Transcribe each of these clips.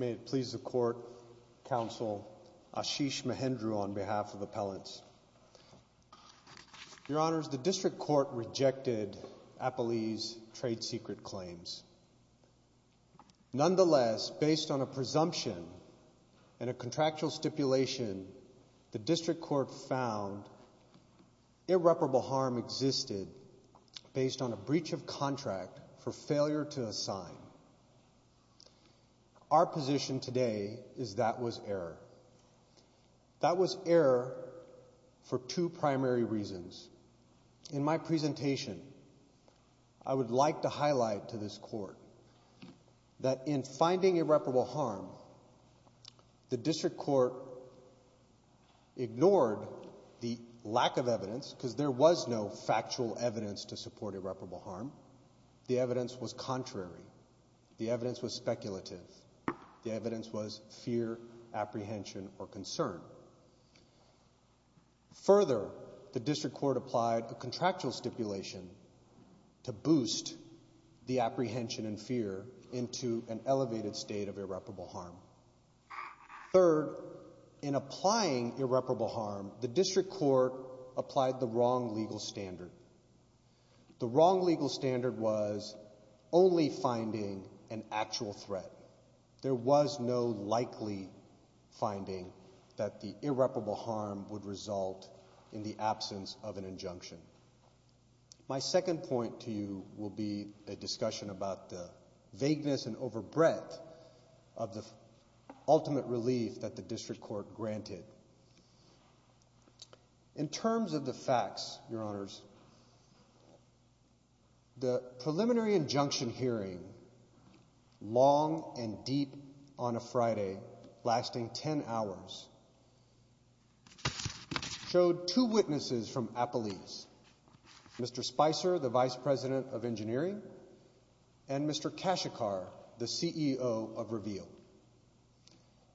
May it please the Court, Counsel Ashish Mahindra, on behalf of the Appellants. Your Honors, the District Court rejected Appelee's trade secret claims. Nonetheless, based on a presumption and a contractual stipulation, the District Court found irreparable harm existed based on a breach of contract for failure to assign. Our position today is that was error. That was error for two primary reasons. In my presentation, I would like to highlight to this Court that in finding irreparable harm, the District Court ignored the lack of evidence because there was no factual evidence to support irreparable harm. The evidence was contrary. The evidence was speculative. The evidence was fear, apprehension, or concern. Further, the District Court applied a contractual stipulation to boost the apprehension and fear into an elevated state of irreparable harm. Third, in applying irreparable harm, the District Court applied the wrong legal standard. The wrong legal standard was only finding an actual threat. There was no likely finding that the irreparable harm would result in the absence of an injunction. My second point to you will be a discussion about the vagueness and overbreadth of the ultimate relief that the District Court granted. In terms of the facts, Your Honors, the preliminary injunction hearing, long and deep on a Friday lasting 10 hours, showed two witnesses from Appalese, Mr. Spicer, the Vice President of Engineering, and Mr. Kashikar, the CEO of Reveal.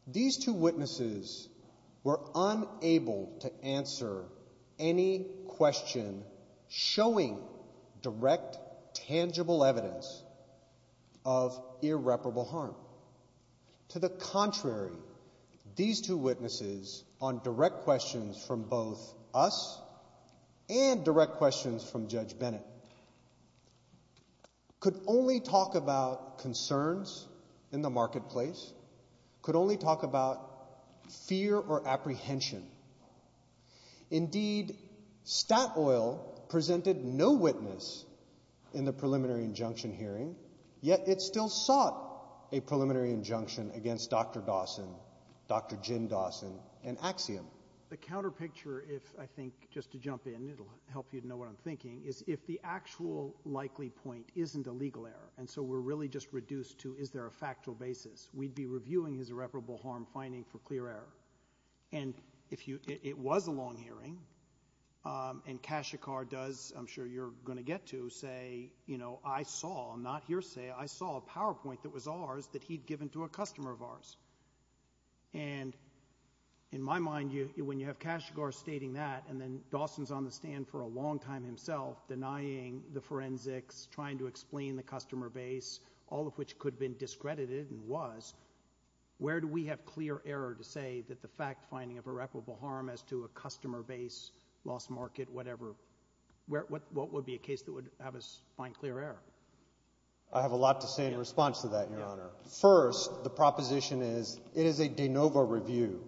These two witnesses were unable to answer any question showing direct, tangible evidence of irreparable harm. To the contrary, these two witnesses, on direct questions from both us and direct questions from Judge Bennett, could only talk about concerns in the marketplace, could only talk about fear or apprehension. Indeed, Statoil presented no witness in the preliminary injunction hearing, yet it still sought a preliminary injunction against Dr. Dawson, Dr. Jim Dawson, and Axiom. The counter picture, if I think, just to jump in, it'll help you to know what I'm thinking, is if the actual likely point isn't a legal error, and so we're really just reduced to is there a factual basis, we'd be reviewing his irreparable harm finding for clear error. And it was a long hearing, and Kashikar does, I'm sure you're going to get to, say, you know, I saw, I'm not hearsay, I saw a PowerPoint that was ours that he'd given to a customer of ours. And in my mind, when you have Kashikar stating that and then Dawson's on the stand for a long time himself denying the forensics, trying to explain the customer base, all of which could have been discredited and was, where do we have clear error to say that the fact finding of irreparable harm as to a customer base, lost market, whatever, what would be a case that would have us find clear error? I have a lot to say in response to that, Your Honor. First, the proposition is it is a de novo review.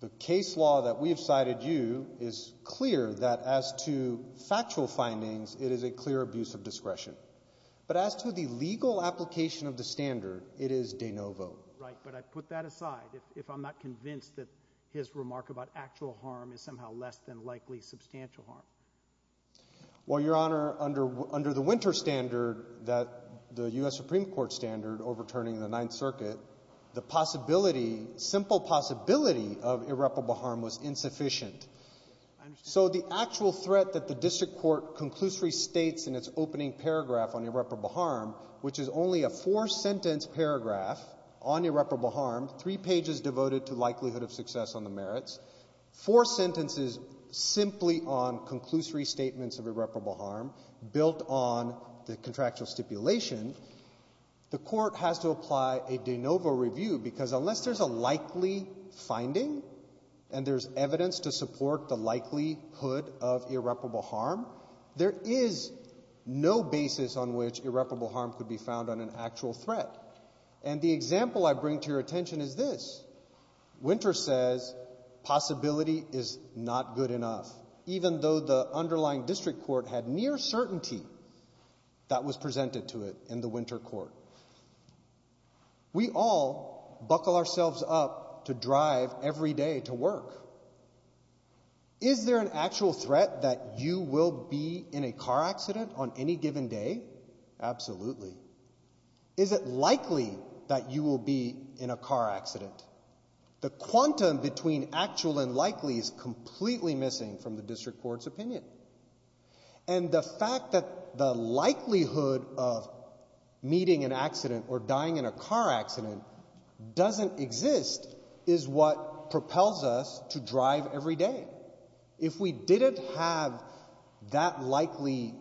The case law that we have cited you is clear that as to factual findings, it is a clear abuse of discretion. But as to the legal application of the standard, it is de novo. Right, but I put that aside if I'm not convinced that his remark about actual harm is somehow less than likely substantial harm. Well, Your Honor, under the winter standard that the U.S. Supreme Court standard overturning the Ninth Circuit, the possibility, simple possibility of irreparable harm was insufficient. So the actual threat that the district court conclusively states in its opening paragraph on irreparable harm, which is only a four-sentence paragraph on irreparable harm, three pages devoted to likelihood of success on the merits, four sentences simply on conclusory statements of irreparable harm built on the contractual stipulation, the court has to apply a de novo review because unless there's a likely finding and there's evidence to support the likelihood of irreparable harm, there is no basis on which irreparable harm could be found on an actual threat. And the example I bring to your attention is this. Winter says possibility is not good enough, even though the underlying district court had near certainty that was presented to it in the winter court. We all buckle ourselves up to drive every day to work. Is there an actual threat that you will be in a car accident on any given day? Absolutely. Is it likely that you will be in a car accident? The quantum between actual and likely is completely missing from the district court's opinion. And the fact that the likelihood of meeting an accident or dying in a car accident doesn't exist is what propels us to drive every day. If we didn't have that likely,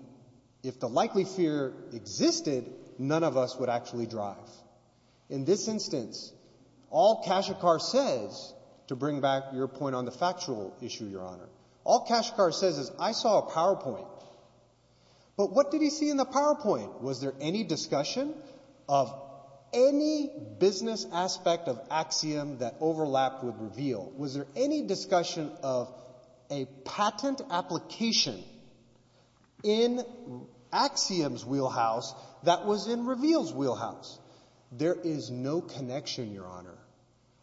if the likely fear existed, none of us would actually drive. In this instance, all Kashakar says, to bring back your point on the factual issue, Your Honor, all Kashakar says is I saw a PowerPoint. But what did he see in the PowerPoint? Was there any discussion of any business aspect of axiom that overlapped with reveal? Was there any discussion of a patent application in axiom's wheelhouse that was in reveal's wheelhouse? There is no connection, Your Honor.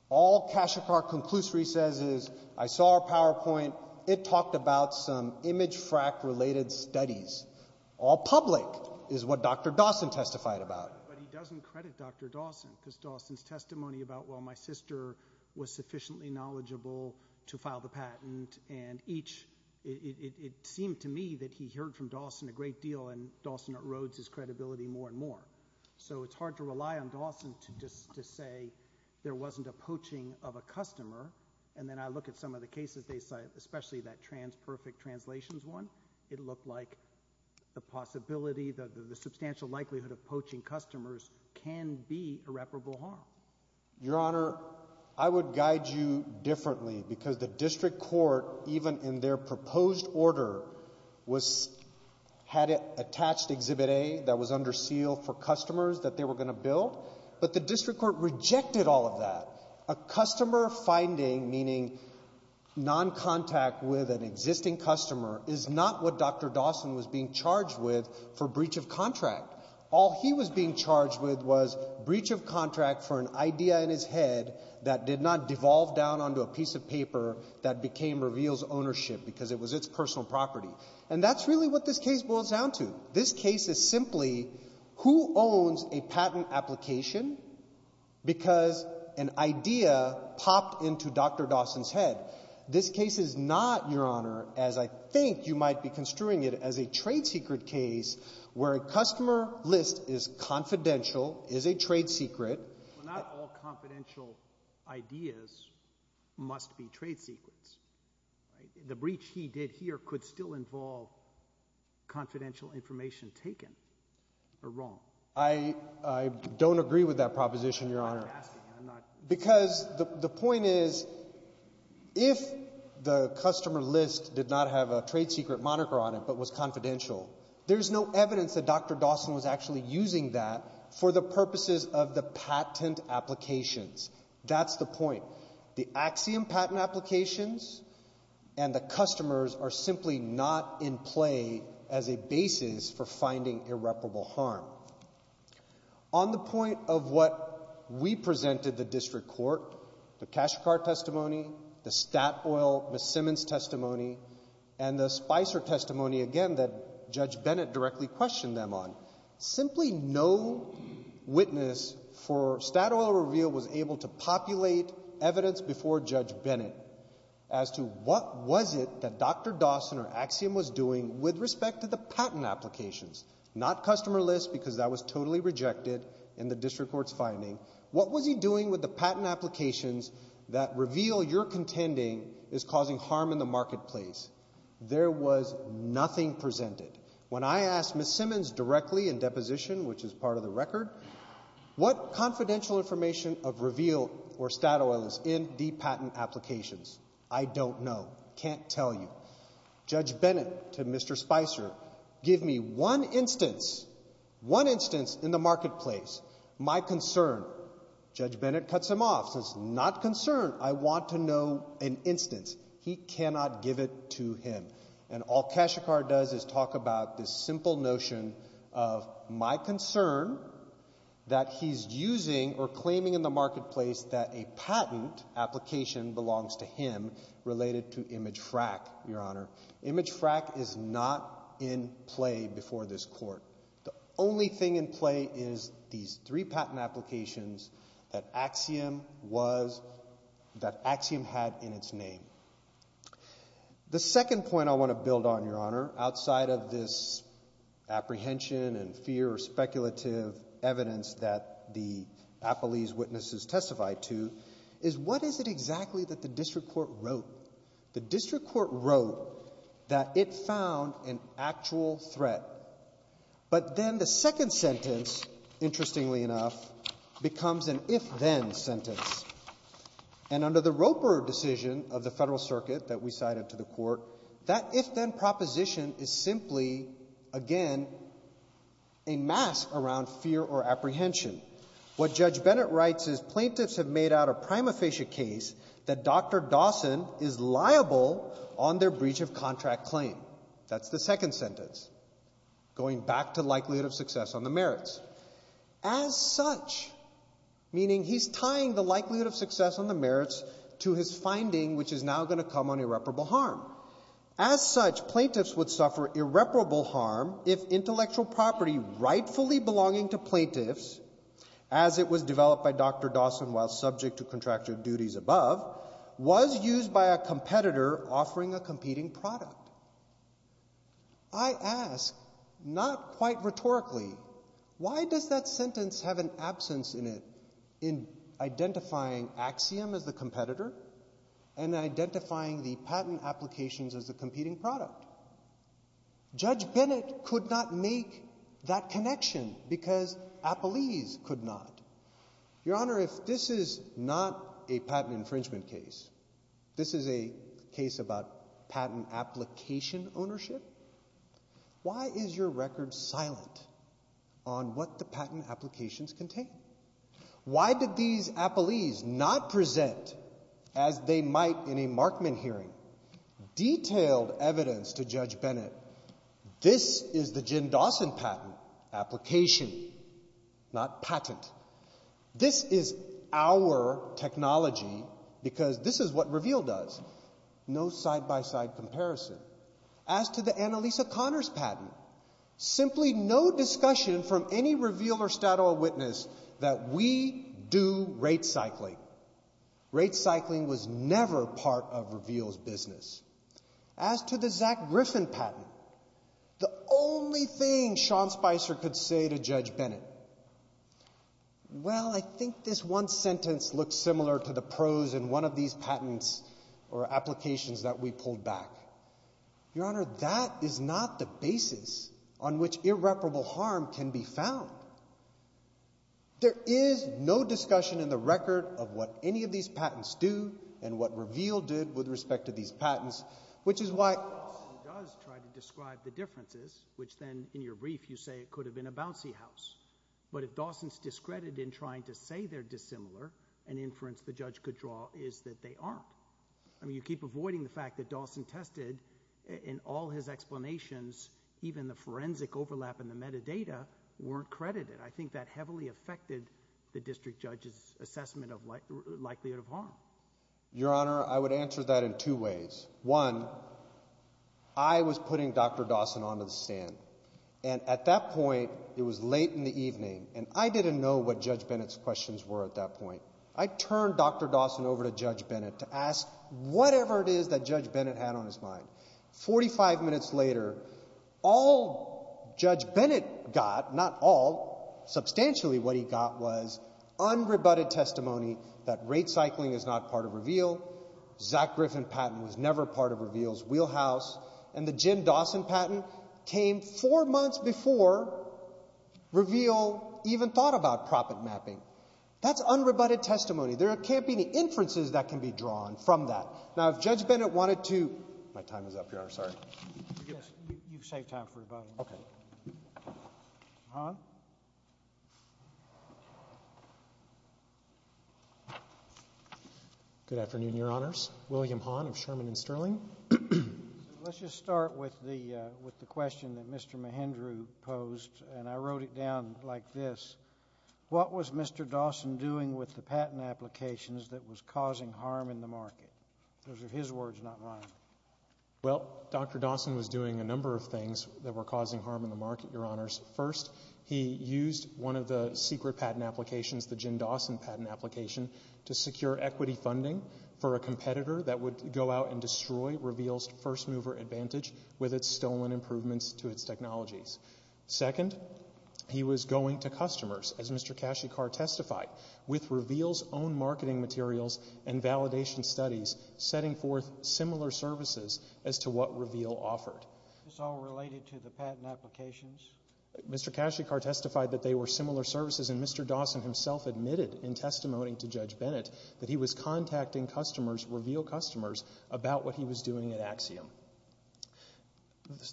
All Kashakar conclusory says is I saw a PowerPoint. It talked about some image frac related studies. All public is what Dr. Dawson testified about. But he doesn't credit Dr. Dawson because Dawson's testimony about, well, my sister was sufficiently knowledgeable to file the patent and it seemed to me that he heard from Dawson a great deal and Dawson erodes his credibility more and more. So it's hard to rely on Dawson to say there wasn't a poaching of a customer. And then I look at some of the cases they cite, especially that TransPerfect Translations one. It looked like the possibility, the substantial likelihood of poaching customers can be irreparable harm. Your Honor, I would guide you differently because the district court, even in their proposed order, had attached Exhibit A that was under seal for customers that they were going to bill. But the district court rejected all of that. A customer finding, meaning noncontact with an existing customer, is not what Dr. Dawson was being charged with for breach of contract. All he was being charged with was breach of contract for an idea in his head that did not devolve down onto a piece of paper that became Reveal's ownership because it was its personal property. And that's really what this case boils down to. This case is simply who owns a patent application because an idea popped into Dr. Dawson's head. This case is not, Your Honor, as I think you might be construing it as a trade secret case where a customer list is confidential, is a trade secret. Not all confidential ideas must be trade secrets. The breach he did here could still involve confidential information taken. Or wrong. I don't agree with that proposition, Your Honor. I'm not asking. I'm not. Because the point is if the customer list did not have a trade secret moniker on it but was confidential, there's no evidence that Dr. Dawson was actually using that for the purposes of the patent applications. That's the point. The axiom patent applications and the customers are simply not in play as a basis for finding irreparable harm. On the point of what we presented the district court, the cash card testimony, the Statoil Miss Simmons testimony, and the Spicer testimony, again, that Judge Bennett directly questioned them on, simply no witness for Statoil reveal was able to populate evidence before Judge Bennett as to what was it that Dr. Dawson or axiom was doing with respect to the patent applications. Not customer list because that was totally rejected in the district court's finding. What was he doing with the patent applications that reveal your contending is causing harm in the marketplace? There was nothing presented. When I asked Miss Simmons directly in deposition, which is part of the record, what confidential information of reveal or Statoil is in the patent applications? I don't know. Can't tell you. Judge Bennett to Mr. Spicer, give me one instance, one instance in the marketplace, my concern. Judge Bennett cuts him off, says, not concern. I want to know an instance. He cannot give it to him. And all cash card does is talk about this simple notion of my concern that he's using or claiming in the marketplace that a patent application belongs to him related to image frack, Your Honor. Image frack is not in play before this court. The only thing in play is these three patent applications that axiom was, that axiom had in its name. The second point I want to build on, Your Honor, outside of this apprehension and fear or speculative evidence that the Apolese witnesses testified to, is what is it exactly that the district court wrote? The district court wrote that it found an actual threat. But then the second sentence, interestingly enough, becomes an if-then sentence. And under the Roper decision of the Federal Circuit that we cited to the court, that if-then proposition is simply, again, a mask around fear or apprehension. What Judge Bennett writes is plaintiffs have made out a prima facie case that Dr. Dawson is liable on their breach of contract claim. That's the second sentence, going back to likelihood of success on the merits. As such, meaning he's tying the likelihood of success on the merits to his finding, which is now going to come on irreparable harm. As such, plaintiffs would suffer irreparable harm if intellectual property rightfully belonging to plaintiffs, as it was developed by Dr. Dawson while subject to contractual duties above, was used by a competitor offering a competing product. I ask, not quite rhetorically, why does that sentence have an absence in it in identifying axiom as the competitor and identifying the patent applications as the competing product? Judge Bennett could not make that connection because Appellese could not. Your Honor, if this is not a patent infringement case, if this is a case about patent application ownership, why is your record silent on what the patent applications contain? Why did these Appellese not present, as they might in a Markman hearing, detailed evidence to Judge Bennett, this is the Jim Dawson patent application, not patent. This is our technology because this is what Reveal does. No side-by-side comparison. As to the Annalisa Connors patent, simply no discussion from any Reveal or Statoil witness that we do rate cycling. Rate cycling was never part of Reveal's business. As to the Zach Griffin patent, the only thing Sean Spicer could say to Judge Bennett, well, I think this one sentence looks similar to the prose in one of these patents or applications that we pulled back. Your Honor, that is not the basis on which irreparable harm can be found. There is no discussion in the record of what any of these patents do and what Reveal did with respect to these patents, which is why Dawson does try to describe the differences, which then, in your brief, you say it could have been a bouncy house. But if Dawson's discredited in trying to say they're dissimilar, an inference the judge could draw is that they aren't. I mean, you keep avoiding the fact that Dawson tested, in all his explanations, even the forensic overlap in the metadata weren't credited. I think that heavily affected the district judge's assessment of likelihood of harm. Your Honor, I would answer that in two ways. One, I was putting Dr. Dawson onto the stand, and at that point, it was late in the evening, and I didn't know what Judge Bennett's questions were at that point. I turned Dr. Dawson over to Judge Bennett to ask whatever it is that Judge Bennett had on his mind. Forty-five minutes later, all Judge Bennett got, not all, substantially what he got was unrebutted testimony that rate cycling is not part of Reveal, Zach Griffin patent was never part of Reveal's wheelhouse, and the Jim Dawson patent came four months before Reveal even thought about profit mapping. That's unrebutted testimony. There can't be any inferences that can be drawn from that. Now, if Judge Bennett wanted to—my time is up, Your Honor, sorry. You've saved time for rebuttal. Okay. Hahn? Good afternoon, Your Honors. William Hahn of Sherman & Sterling. Let's just start with the question that Mr. Mahindra posed, and I wrote it down like this. What was Mr. Dawson doing with the patent applications that was causing harm in the market? Those are his words, not mine. Well, Dr. Dawson was doing a number of things that were causing harm in the market, Your Honors. First, he used one of the secret patent applications, the Jim Dawson patent application, to secure equity funding for a competitor that would go out and destroy Reveal's first-mover advantage with its stolen improvements to its technologies. Second, he was going to customers, as Mr. Kashykar testified, with Reveal's own marketing materials and validation studies setting forth similar services as to what Reveal offered. Is this all related to the patent applications? Mr. Kashykar testified that they were similar services, and Mr. Dawson himself admitted in testimony to Judge Bennett that he was contacting customers, Reveal customers, about what he was doing at Axiom.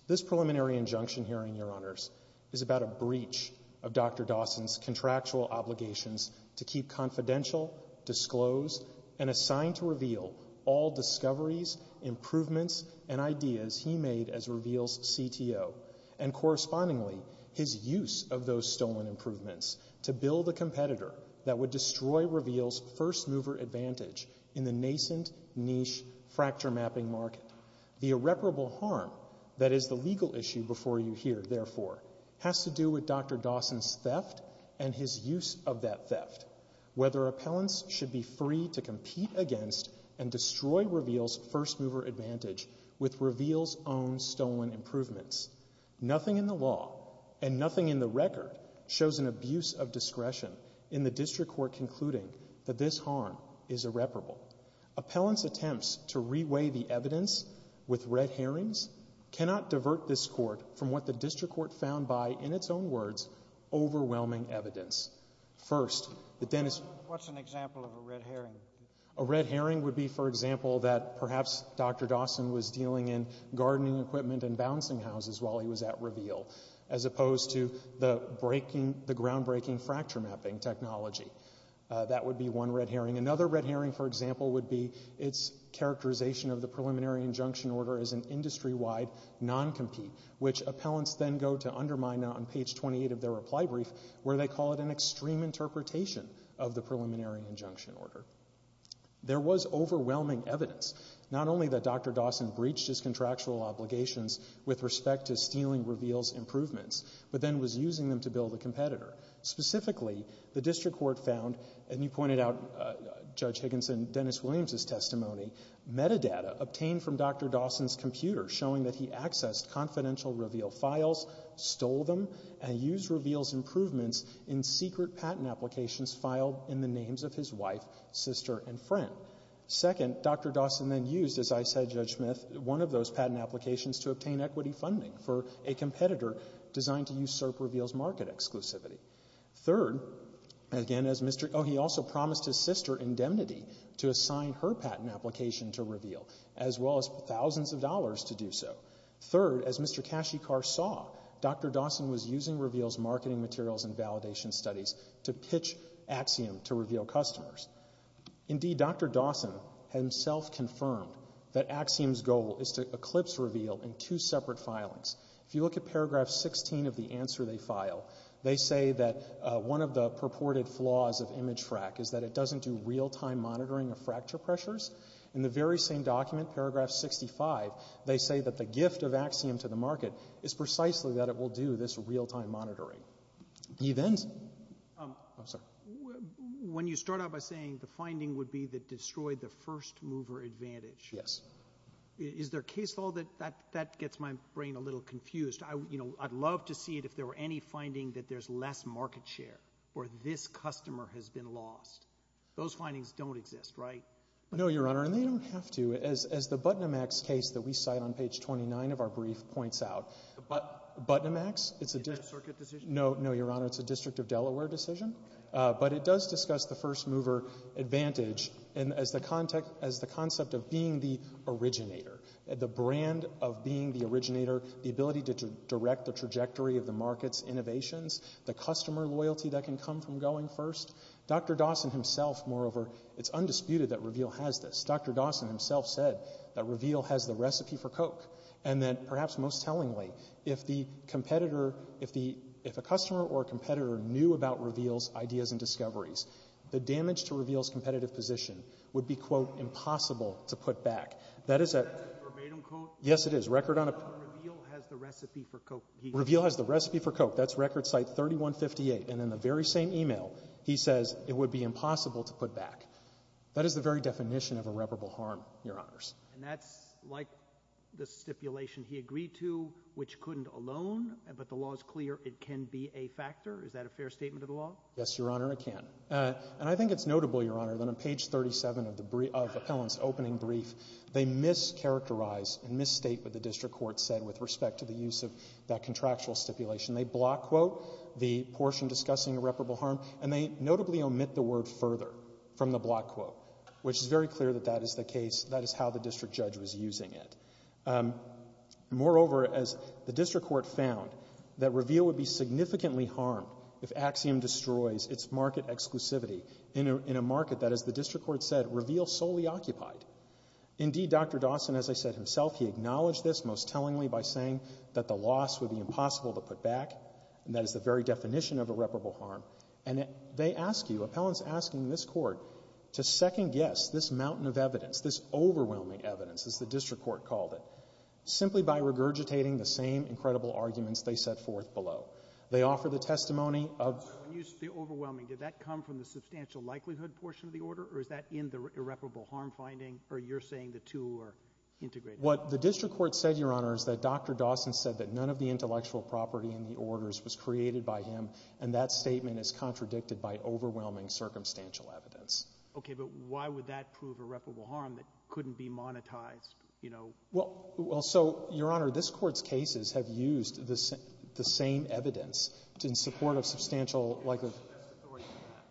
This preliminary injunction herein, Your Honors, is about a breach of Dr. Dawson's contractual obligations to keep confidential, disclose, and assign to Reveal all discoveries, improvements, and ideas he made as Reveal's CTO and, correspondingly, his use of those stolen improvements to build a competitor that would destroy Reveal's first-mover advantage in the nascent niche fracture mapping market. The irreparable harm that is the legal issue before you here, therefore, has to do with Dr. Dawson's theft and his use of that theft, whether appellants should be free to compete against and destroy Reveal's first-mover advantage with Reveal's own stolen improvements. Nothing in the law and nothing in the record shows an abuse of discretion in the district court concluding that this harm is irreparable. Appellants' attempts to reweigh the evidence with red herrings cannot divert this court from what the district court found by, in its own words, overwhelming evidence. First, the Dennis... What's an example of a red herring? A red herring would be, for example, that perhaps Dr. Dawson was dealing in gardening equipment and balancing houses while he was at Reveal, as opposed to the groundbreaking fracture mapping technology. That would be one red herring. Another red herring, for example, would be its characterization of the preliminary injunction order as an industry-wide non-compete, which appellants then go to undermine on page 28 of their reply brief, where they call it an extreme interpretation of the preliminary injunction order. There was overwhelming evidence, not only that Dr. Dawson breached his contractual obligations with respect to stealing Reveal's improvements, but then was using them to build a competitor. Specifically, the district court found, and you pointed out, Judge Higginson, Dennis Williams' testimony, metadata obtained from Dr. Dawson's computer showing that he accessed confidential Reveal files, stole them, and used Reveal's improvements in secret patent applications filed in the names of his wife, sister, and friend. Second, Dr. Dawson then used, as I said, Judge Smith, one of those patent applications to obtain equity funding for a competitor designed to usurp Reveal's market exclusivity. Third, again, as Mr. — oh, he also promised his sister indemnity to assign her patent application to Reveal, as well as thousands of dollars to do so. Third, as Mr. Kashykar saw, Dr. Dawson was using Reveal's marketing materials and validation studies to pitch Axiom to Reveal customers. Indeed, Dr. Dawson himself confirmed that Axiom's goal is to eclipse Reveal in two separate filings. If you look at paragraph 16 of the answer they file, they say that one of the purported flaws of image frac is that it doesn't do real-time monitoring of fracture pressures. In the very same document, paragraph 65, they say that the gift of Axiom to the market is precisely that it will do this real-time monitoring. The event — oh, sorry. When you start out by saying the finding would be that destroyed the first-mover advantage — Yes. — is there case law that — that gets my brain a little confused. You know, I'd love to see it if there were any finding that there's less market share or this customer has been lost. Those findings don't exist, right? No, Your Honor, and they don't have to. As the Buttonamax case that we cite on page 29 of our brief points out, Buttonamax, it's a — Is that a circuit decision? No, no, Your Honor. It's a District of Delaware decision, but it does discuss the first-mover advantage as the concept of being the originator, the brand of being the originator, the ability to direct the trajectory of the market's innovations, the customer loyalty that can come from going first. Dr. Dawson himself, moreover, it's undisputed that Reveal has this. Dr. Dawson himself said that Reveal has the recipe for Coke and that, perhaps most tellingly, if the competitor — if a customer or a competitor knew about Reveal's ideas and discoveries, the damage to Reveal's competitive position would be, quote, impossible to put back. That is a — Is that a verbatim quote? Yes, it is. Record on a — Reveal has the recipe for Coke. Reveal has the recipe for Coke. That's record site 3158. And in the very same email, he says it would be impossible to put back. That is the very definition of irreparable harm, Your Honors. And that's like the stipulation he agreed to, which couldn't alone, but the law is clear, it can be a factor. Is that a fair statement of the law? Yes, Your Honor, it can. And I think it's notable, Your Honor, that on page 37 of the — of Appellant's opening brief, they mischaracterize and misstate what the district court said with respect to the use of that contractual stipulation. They block, quote, the portion discussing irreparable harm, and they notably omit the word further from the block quote, which is very clear that that is the That is how the district judge was using it. Moreover, as the district court found, that reveal would be significantly harmed if Axiom destroys its market exclusivity in a — in a market that, as the district court said, reveal solely occupied. Indeed, Dr. Dawson, as I said himself, he acknowledged this most tellingly by saying that the loss would be impossible to put back, and that is the very definition of irreparable harm. And they ask you, Appellant's asking this Court to second-guess this mountain of evidence, this overwhelming evidence, as the district court called it, simply by regurgitating the same incredible arguments they set forth below. They offer the testimony of — When you say overwhelming, did that come from the substantial likelihood portion of the order, or is that in the irreparable harm finding, or you're saying the two are integrated? What the district court said, Your Honor, is that Dr. Dawson said that none of the intellectual property in the orders was created by him, and that statement is contradicted by overwhelming circumstantial evidence. Okay. But why would that prove irreparable harm that couldn't be monetized, you know? Well — well, so, Your Honor, this Court's cases have used the same evidence in support of substantial likelihood.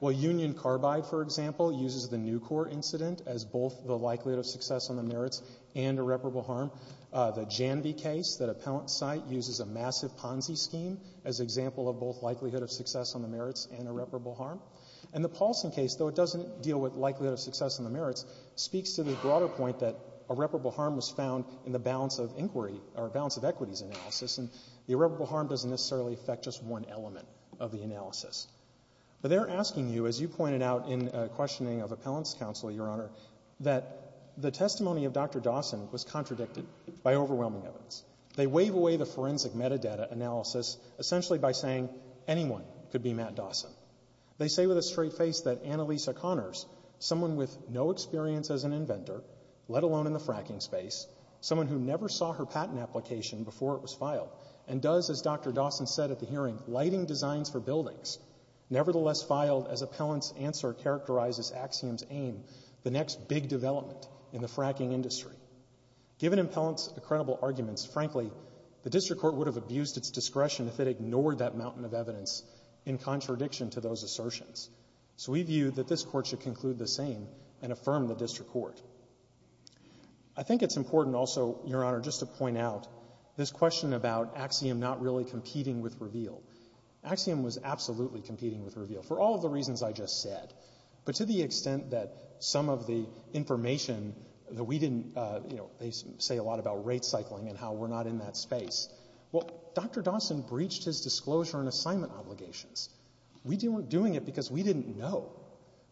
Well, Union Carbide, for example, uses the Newcourt incident as both the likelihood of success on the merits and irreparable harm. The Janvey case that Appellant's cite uses a massive Ponzi scheme as example of both likelihood of success on the merits and irreparable harm. And the Paulson case, though it doesn't deal with likelihood of success on the merits, speaks to the broader point that irreparable harm was found in the balance of inquiry or balance of equities analysis, and the irreparable harm doesn't necessarily affect just one element of the analysis. But they're asking you, as you pointed out in questioning of Appellant's counsel, Your Honor, that the testimony of Dr. Dawson was contradicted by overwhelming evidence. They wave away the forensic metadata analysis essentially by saying anyone could be Matt Dawson. They say with a straight face that Annalisa Connors, someone with no experience as an inventor, let alone in the fracking space, someone who never saw her patent application before it was filed, and does, as Dr. Dawson said at the hearing, lighting designs for buildings, nevertheless filed as Appellant's answer characterizes Axiom's aim, the next big development in the fracking industry. Given Appellant's incredible arguments, frankly, the district court would have abused its discretion if it ignored that mountain of evidence in contradiction to those assertions. So we view that this Court should conclude the same and affirm the district court. I think it's important also, Your Honor, just to point out this question about Axiom not really competing with Reveal. Axiom was absolutely competing with Reveal for all of the reasons I just said. But to the extent that some of the information that we didn't, you know, they say a lot about rate cycling and how we're not in that space. Well, Dr. Dawson breached his disclosure and assignment obligations. We weren't doing it because we didn't know.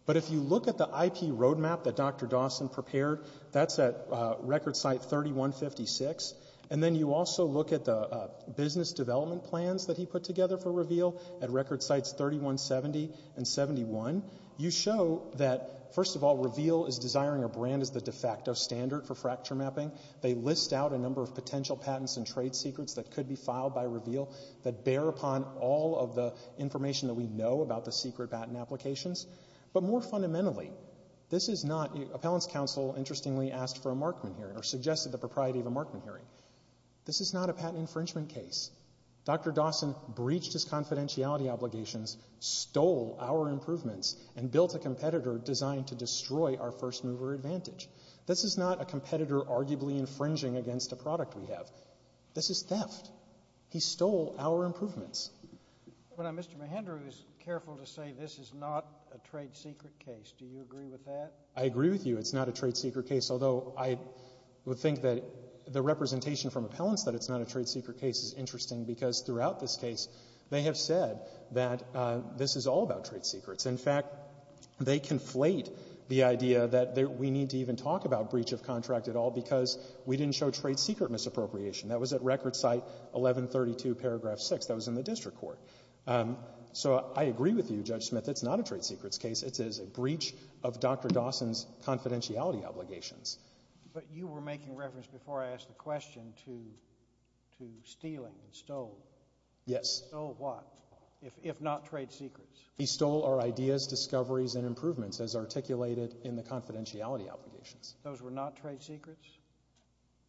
But if you look at the IP roadmap that Dr. Dawson prepared, that's at record site 3156. And then you also look at the business development plans that he put together for Reveal at record sites 3170 and 71. You show that, first of all, Reveal is desiring a brand as the de facto standard for fracture mapping. They list out a number of potential patents and trade secrets that could be filed by Reveal that bear upon all of the information that we know about the secret patent applications. But more fundamentally, this is not, Appellant's counsel interestingly asked for a Markman hearing or suggested the propriety of a Markman hearing. This is not a patent infringement case. Dr. Dawson breached his confidentiality obligations, stole our improvements, and built a competitor designed to destroy our first mover advantage. This is not a competitor arguably infringing against a product we have. This is theft. He stole our improvements. But Mr. Mahindra is careful to say this is not a trade secret case. Do you agree with that? I agree with you. It's not a trade secret case, although I would think that the representation from Appellant's that it's not a trade secret case is interesting because throughout this case they have said that this is all about trade secrets. In fact, they conflate the idea that we need to even talk about breach of contract at all because we didn't show trade secret misappropriation. That was at record site 1132 paragraph 6. That was in the district court. So I agree with you, Judge Smith. It's not a trade secrets case. It is a breach of Dr. Dawson's confidentiality obligations. But you were making reference before I asked the question to stealing and stole. Yes. Stole what, if not trade secrets? He stole our ideas, discoveries, and improvements as articulated in the confidentiality obligations. Those were not trade secrets?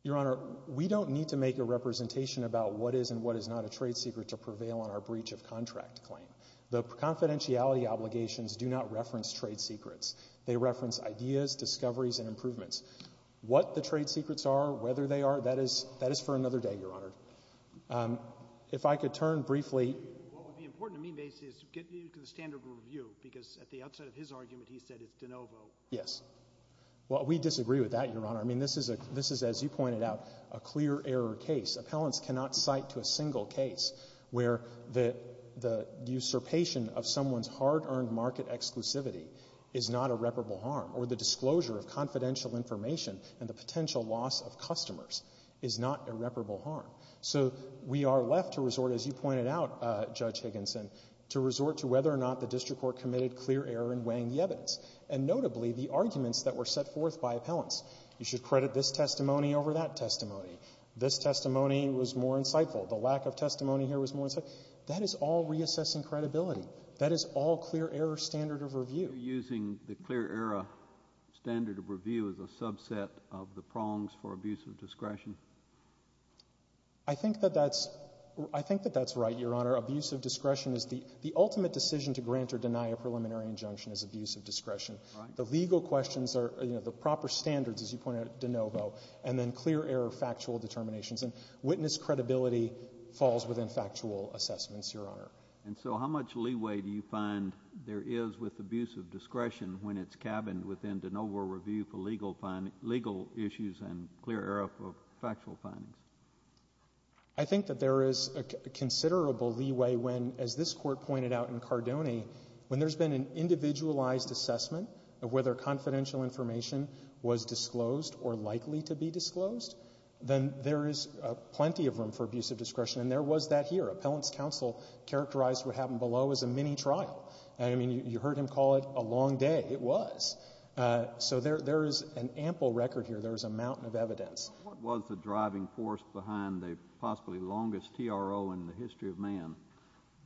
Your Honor, we don't need to make a representation about what is and what is not a trade secret to prevail on our breach of contract claim. The confidentiality obligations do not reference trade secrets. They reference ideas, discoveries, and improvements. What the trade secrets are, whether they are, that is for another day, Your Honor. If I could turn briefly. What would be important to me, Macy, is to get you to the standard of review because at the outset of his argument he said it's de novo. Yes. Well, we disagree with that, Your Honor. I mean, this is, as you pointed out, a clear error case. Appellants cannot cite to a single case where the usurpation of someone's hard-earned market exclusivity is not irreparable harm or the disclosure of confidential information and the potential loss of customers is not irreparable harm. So we are left to resort, as you pointed out, Judge Higginson, to resort to whether or not the district court committed clear error in weighing the evidence and notably the arguments that were set forth by appellants. You should credit this testimony over that testimony. This testimony was more insightful. The lack of testimony here was more insightful. That is all reassessing credibility. That is all clear error standard of review. Are you using the clear error standard of review as a subset of the prongs for abuse of discretion? I think that that's right, Your Honor. Abuse of discretion is the ultimate decision to grant or deny a preliminary injunction is abuse of discretion. Right. The legal questions are, you know, the proper standards, as you pointed out, de novo, and then clear error factual determinations. And witness credibility falls within factual assessments, Your Honor. And so how much leeway do you find there is with abuse of discretion when it's cabined within de novo review for legal issues and clear error of factual findings? I think that there is considerable leeway when, as this Court pointed out in Cardone, when there's been an individualized assessment of whether confidential information was disclosed or likely to be disclosed, then there is plenty of room for abuse of discretion. And there was that here. Appellant's counsel characterized what happened below as a mini trial. I mean, you heard him call it a long day. It was. So there is an ample record here. There is a mountain of evidence. What was the driving force behind the possibly longest TRO in the history of man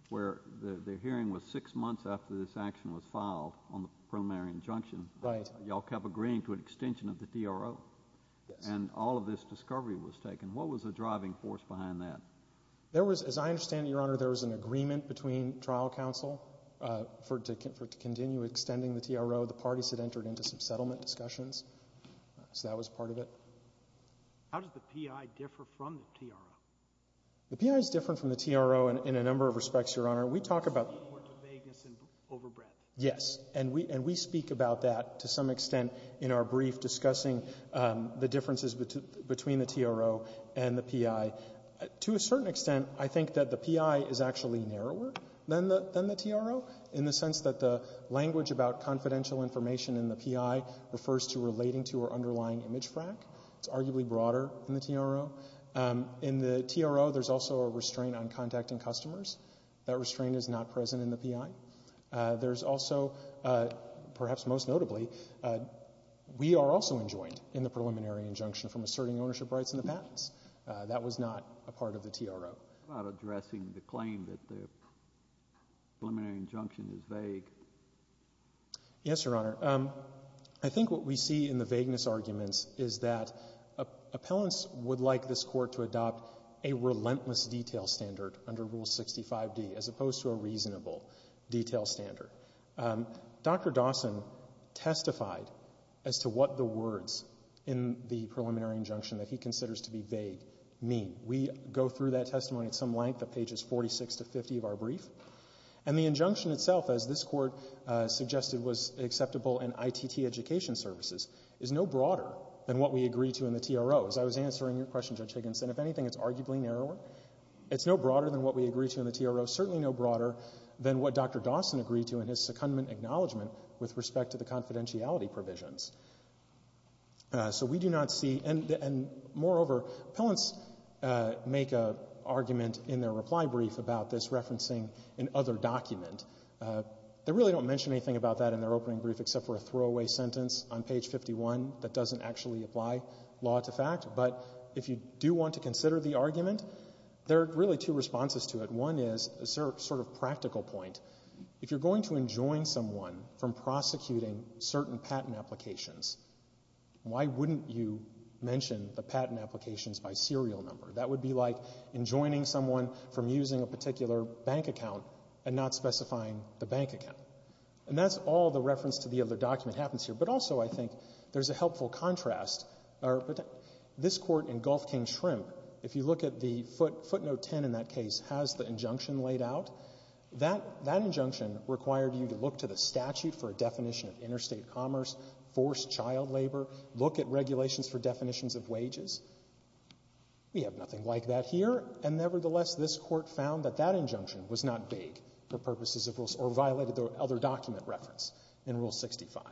where the hearing was six months after this action was filed on the preliminary injunction? Right. Y'all kept agreeing to an extension of the TRO. Yes. And all of this discovery was taken. What was the driving force behind that? There was, as I understand, Your Honor, there was an agreement between trial counsel for it to continue extending the TRO. The parties had entered into some settlement discussions. So that was part of it. How does the PI differ from the TRO? The PI is different from the TRO in a number of respects, Your Honor. We talk about the vagueness and overbreadth. Yes. And we speak about that to some extent in our brief discussing the differences between the TRO and the PI. To a certain extent, I think that the PI is actually narrower than the TRO in the sense that the language about confidential information in the PI refers to relating to our underlying image frack. It's arguably broader than the TRO. In the TRO, there's also a restraint on contacting customers. That restraint is not present in the PI. There's also, perhaps most notably, we are also enjoined in the preliminary injunction from asserting ownership rights in the patents. That was not a part of the TRO. How about addressing the claim that the preliminary injunction is vague? Yes, Your Honor. I think what we see in the vagueness arguments is that appellants would like this detail standard. Dr. Dawson testified as to what the words in the preliminary injunction that he considers to be vague mean. We go through that testimony at some length at pages 46 to 50 of our brief. And the injunction itself, as this Court suggested was acceptable in ITT education services, is no broader than what we agree to in the TRO. As I was answering your question, Judge Higginson, if anything, it's arguably narrower. It's no broader than what we agree to in the TRO. Certainly no broader than what Dr. Dawson agreed to in his secondment acknowledgement with respect to the confidentiality provisions. So we do not see, and moreover, appellants make an argument in their reply brief about this, referencing an other document. They really don't mention anything about that in their opening brief except for a throwaway sentence on page 51 that doesn't actually apply law to fact. But if you do want to consider the argument, there are really two responses to it. One is a sort of practical point. If you're going to enjoin someone from prosecuting certain patent applications, why wouldn't you mention the patent applications by serial number? That would be like enjoining someone from using a particular bank account and not specifying the bank account. And that's all the reference to the other document happens here. But also I think there's a helpful contrast. This Court in Gulf King-Shrimp, if you look at the footnote 10 in that case, has the injunction laid out. That injunction required you to look to the statute for a definition of interstate commerce, forced child labor, look at regulations for definitions of wages. We have nothing like that here. And nevertheless, this Court found that that injunction was not vague for purposes of rules or violated the other document reference in Rule 65.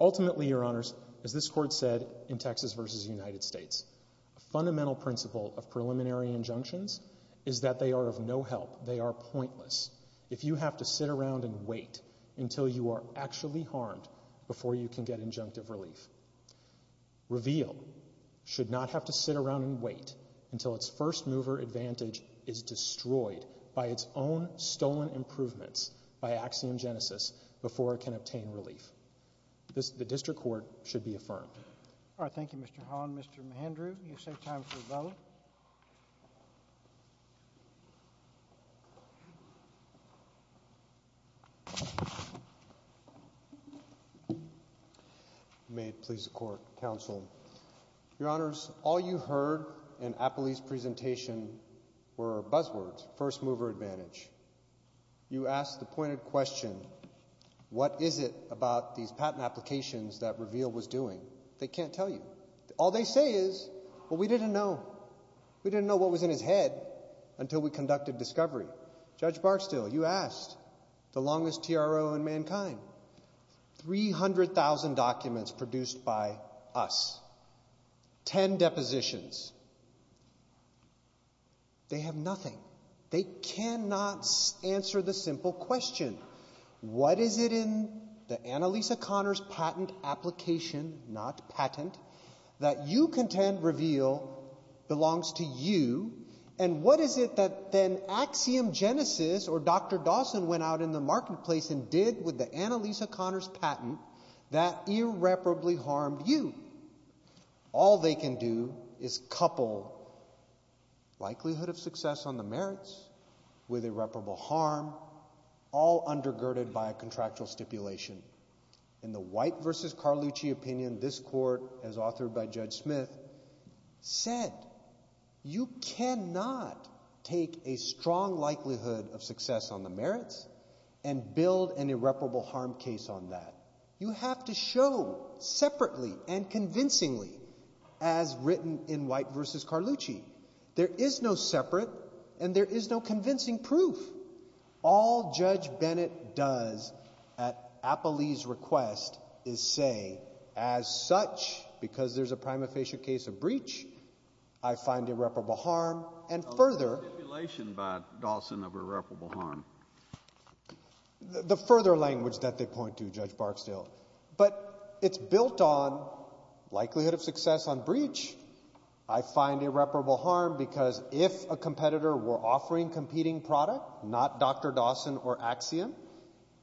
Ultimately, Your Honors, as this Court said in Texas v. United States, a fundamental principle of preliminary injunctions is that they are of no help. They are pointless if you have to sit around and wait until you are actually harmed before you can get injunctive relief. Reveal should not have to sit around and wait until its first mover advantage is The District Court should be affirmed. All right. Thank you, Mr. Holland. Mr. Mahindra, you save time for a vote. May it please the Court, Counsel. Your Honors, all you heard in Apley's presentation were buzzwords, first mover advantage. You asked the pointed question, what is it about these patent applications that Reveal was doing? They can't tell you. All they say is, well, we didn't know. We didn't know what was in his head until we conducted discovery. Judge Barksdale, you asked, the longest TRO in mankind, 300,000 documents produced by us, 10 depositions. They have nothing. They cannot answer the simple question, what is it in the Annalisa Connors patent application, not patent, that you contend Reveal belongs to you, and what is it that then Axiom Genesis or Dr. Dawson went out in the marketplace and did with the Annalisa Connors patent that irreparably harmed you? All they can do is couple likelihood of success on the merits with irreparable harm, all undergirded by a contractual stipulation. In the White v. Carlucci opinion, this Court, as authored by Judge Smith, said you cannot take a strong likelihood of success on the merits and build an irreparable harm case on that. You have to show separately and convincingly, as written in White v. Carlucci, there is no separate and there is no convincing proof. All Judge Bennett does at Apolli's request is say, as such, because there's a prima facie case of breach, I find irreparable harm, and further A letter of stipulation by Dawson of irreparable harm. The further language that they point to, Judge Barksdale, but it's built on likelihood of success on breach. I find irreparable harm because if a competitor were offering competing product, not Dr. Dawson or Axiom,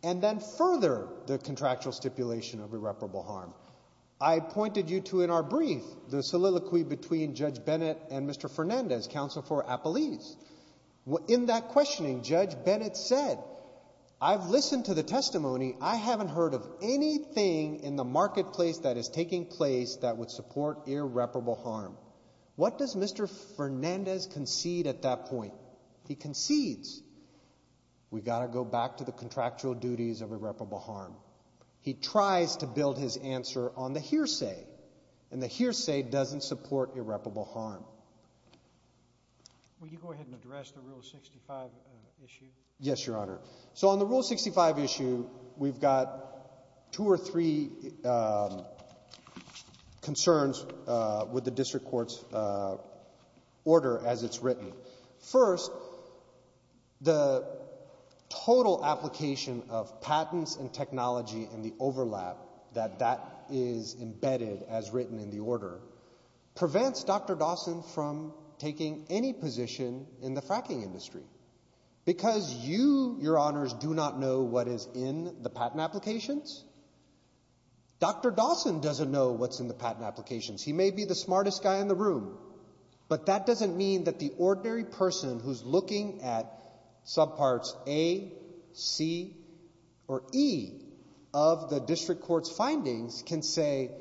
and then further the contractual stipulation of irreparable harm. I pointed you to in our brief the soliloquy between Judge Bennett and Mr. Fernandez, counsel for Apolli's. In that questioning, Judge Bennett said, I've listened to the testimony. I haven't heard of anything in the marketplace that is taking place that would support irreparable harm. What does Mr. Fernandez concede at that point? He concedes we've got to go back to the contractual duties of irreparable harm. He tries to build his answer on the hearsay, and the hearsay doesn't support irreparable harm. Will you go ahead and address the Rule 65 issue? Yes, Your Honor. So on the Rule 65 issue, we've got two or three concerns with the district court's order as it's written. First, the total application of patents and technology and the overlap that that is embedded as written in the order prevents Dr. Dawson from taking any position in the fracking industry. Because you, Your Honors, do not know what is in the patent applications, Dr. Dawson doesn't know what's in the patent applications. He may be the smartest guy in the room, but that doesn't mean that the ordinary person who's looking at subparts A, C, or E of the district court's findings can say,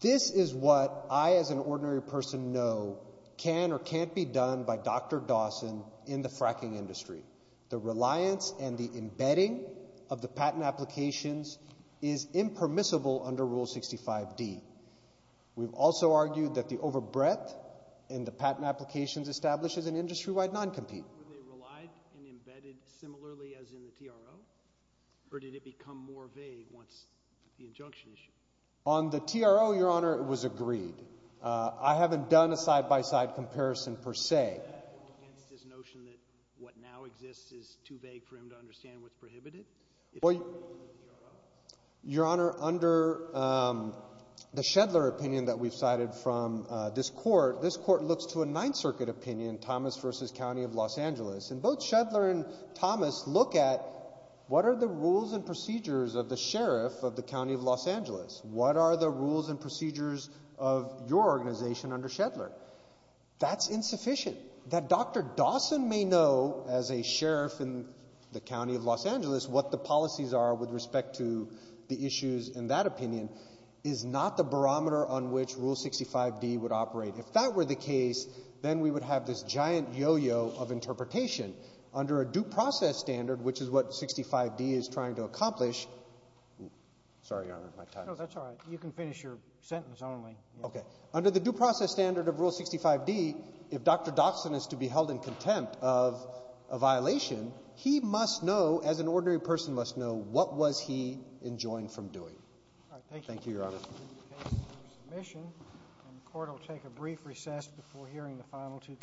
this is what I as an ordinary person know can or can't be done by Dr. Dawson in the fracking industry. The reliance and the embedding of the patent applications is impermissible under Rule 65D. We've also argued that the overbreadth in the patent applications establishes an industry-wide non-compete. Were they relied and embedded similarly as in the TRO? Or did it become more vague once the injunction issue? On the TRO, Your Honor, it was agreed. I haven't done a side-by-side comparison per se. Against this notion that what now exists is too vague for him to understand what's prohibited? Your Honor, under the Shedler opinion that we've cited from this court, this court looks to a Ninth Circuit opinion, Thomas v. County of Los Angeles, and both Shedler and Thomas look at what are the rules and procedures of the sheriff of the County of Los Angeles? What are the rules and procedures of your organization under Shedler? That's insufficient. That Dr. Dawson may know as a sheriff in the County of Los Angeles what the policies are with respect to the issues in that opinion is not the barometer on which Rule 65D would operate. If that were the case, then we would have this giant yo-yo of interpretation. Under a due process standard, which is what 65D is trying to accomplish, sorry, Your Honor, my time is up. No, that's all right. You can finish your sentence only. Okay. Under the due process standard of Rule 65D, if Dr. Dawson is to be held in contempt of a violation, he must know, as an ordinary person must know, what was he enjoined from doing. All right. Thank you. Thank you, Your Honor. The case is under submission, and the Court will take a brief recess before hearing the final two cases.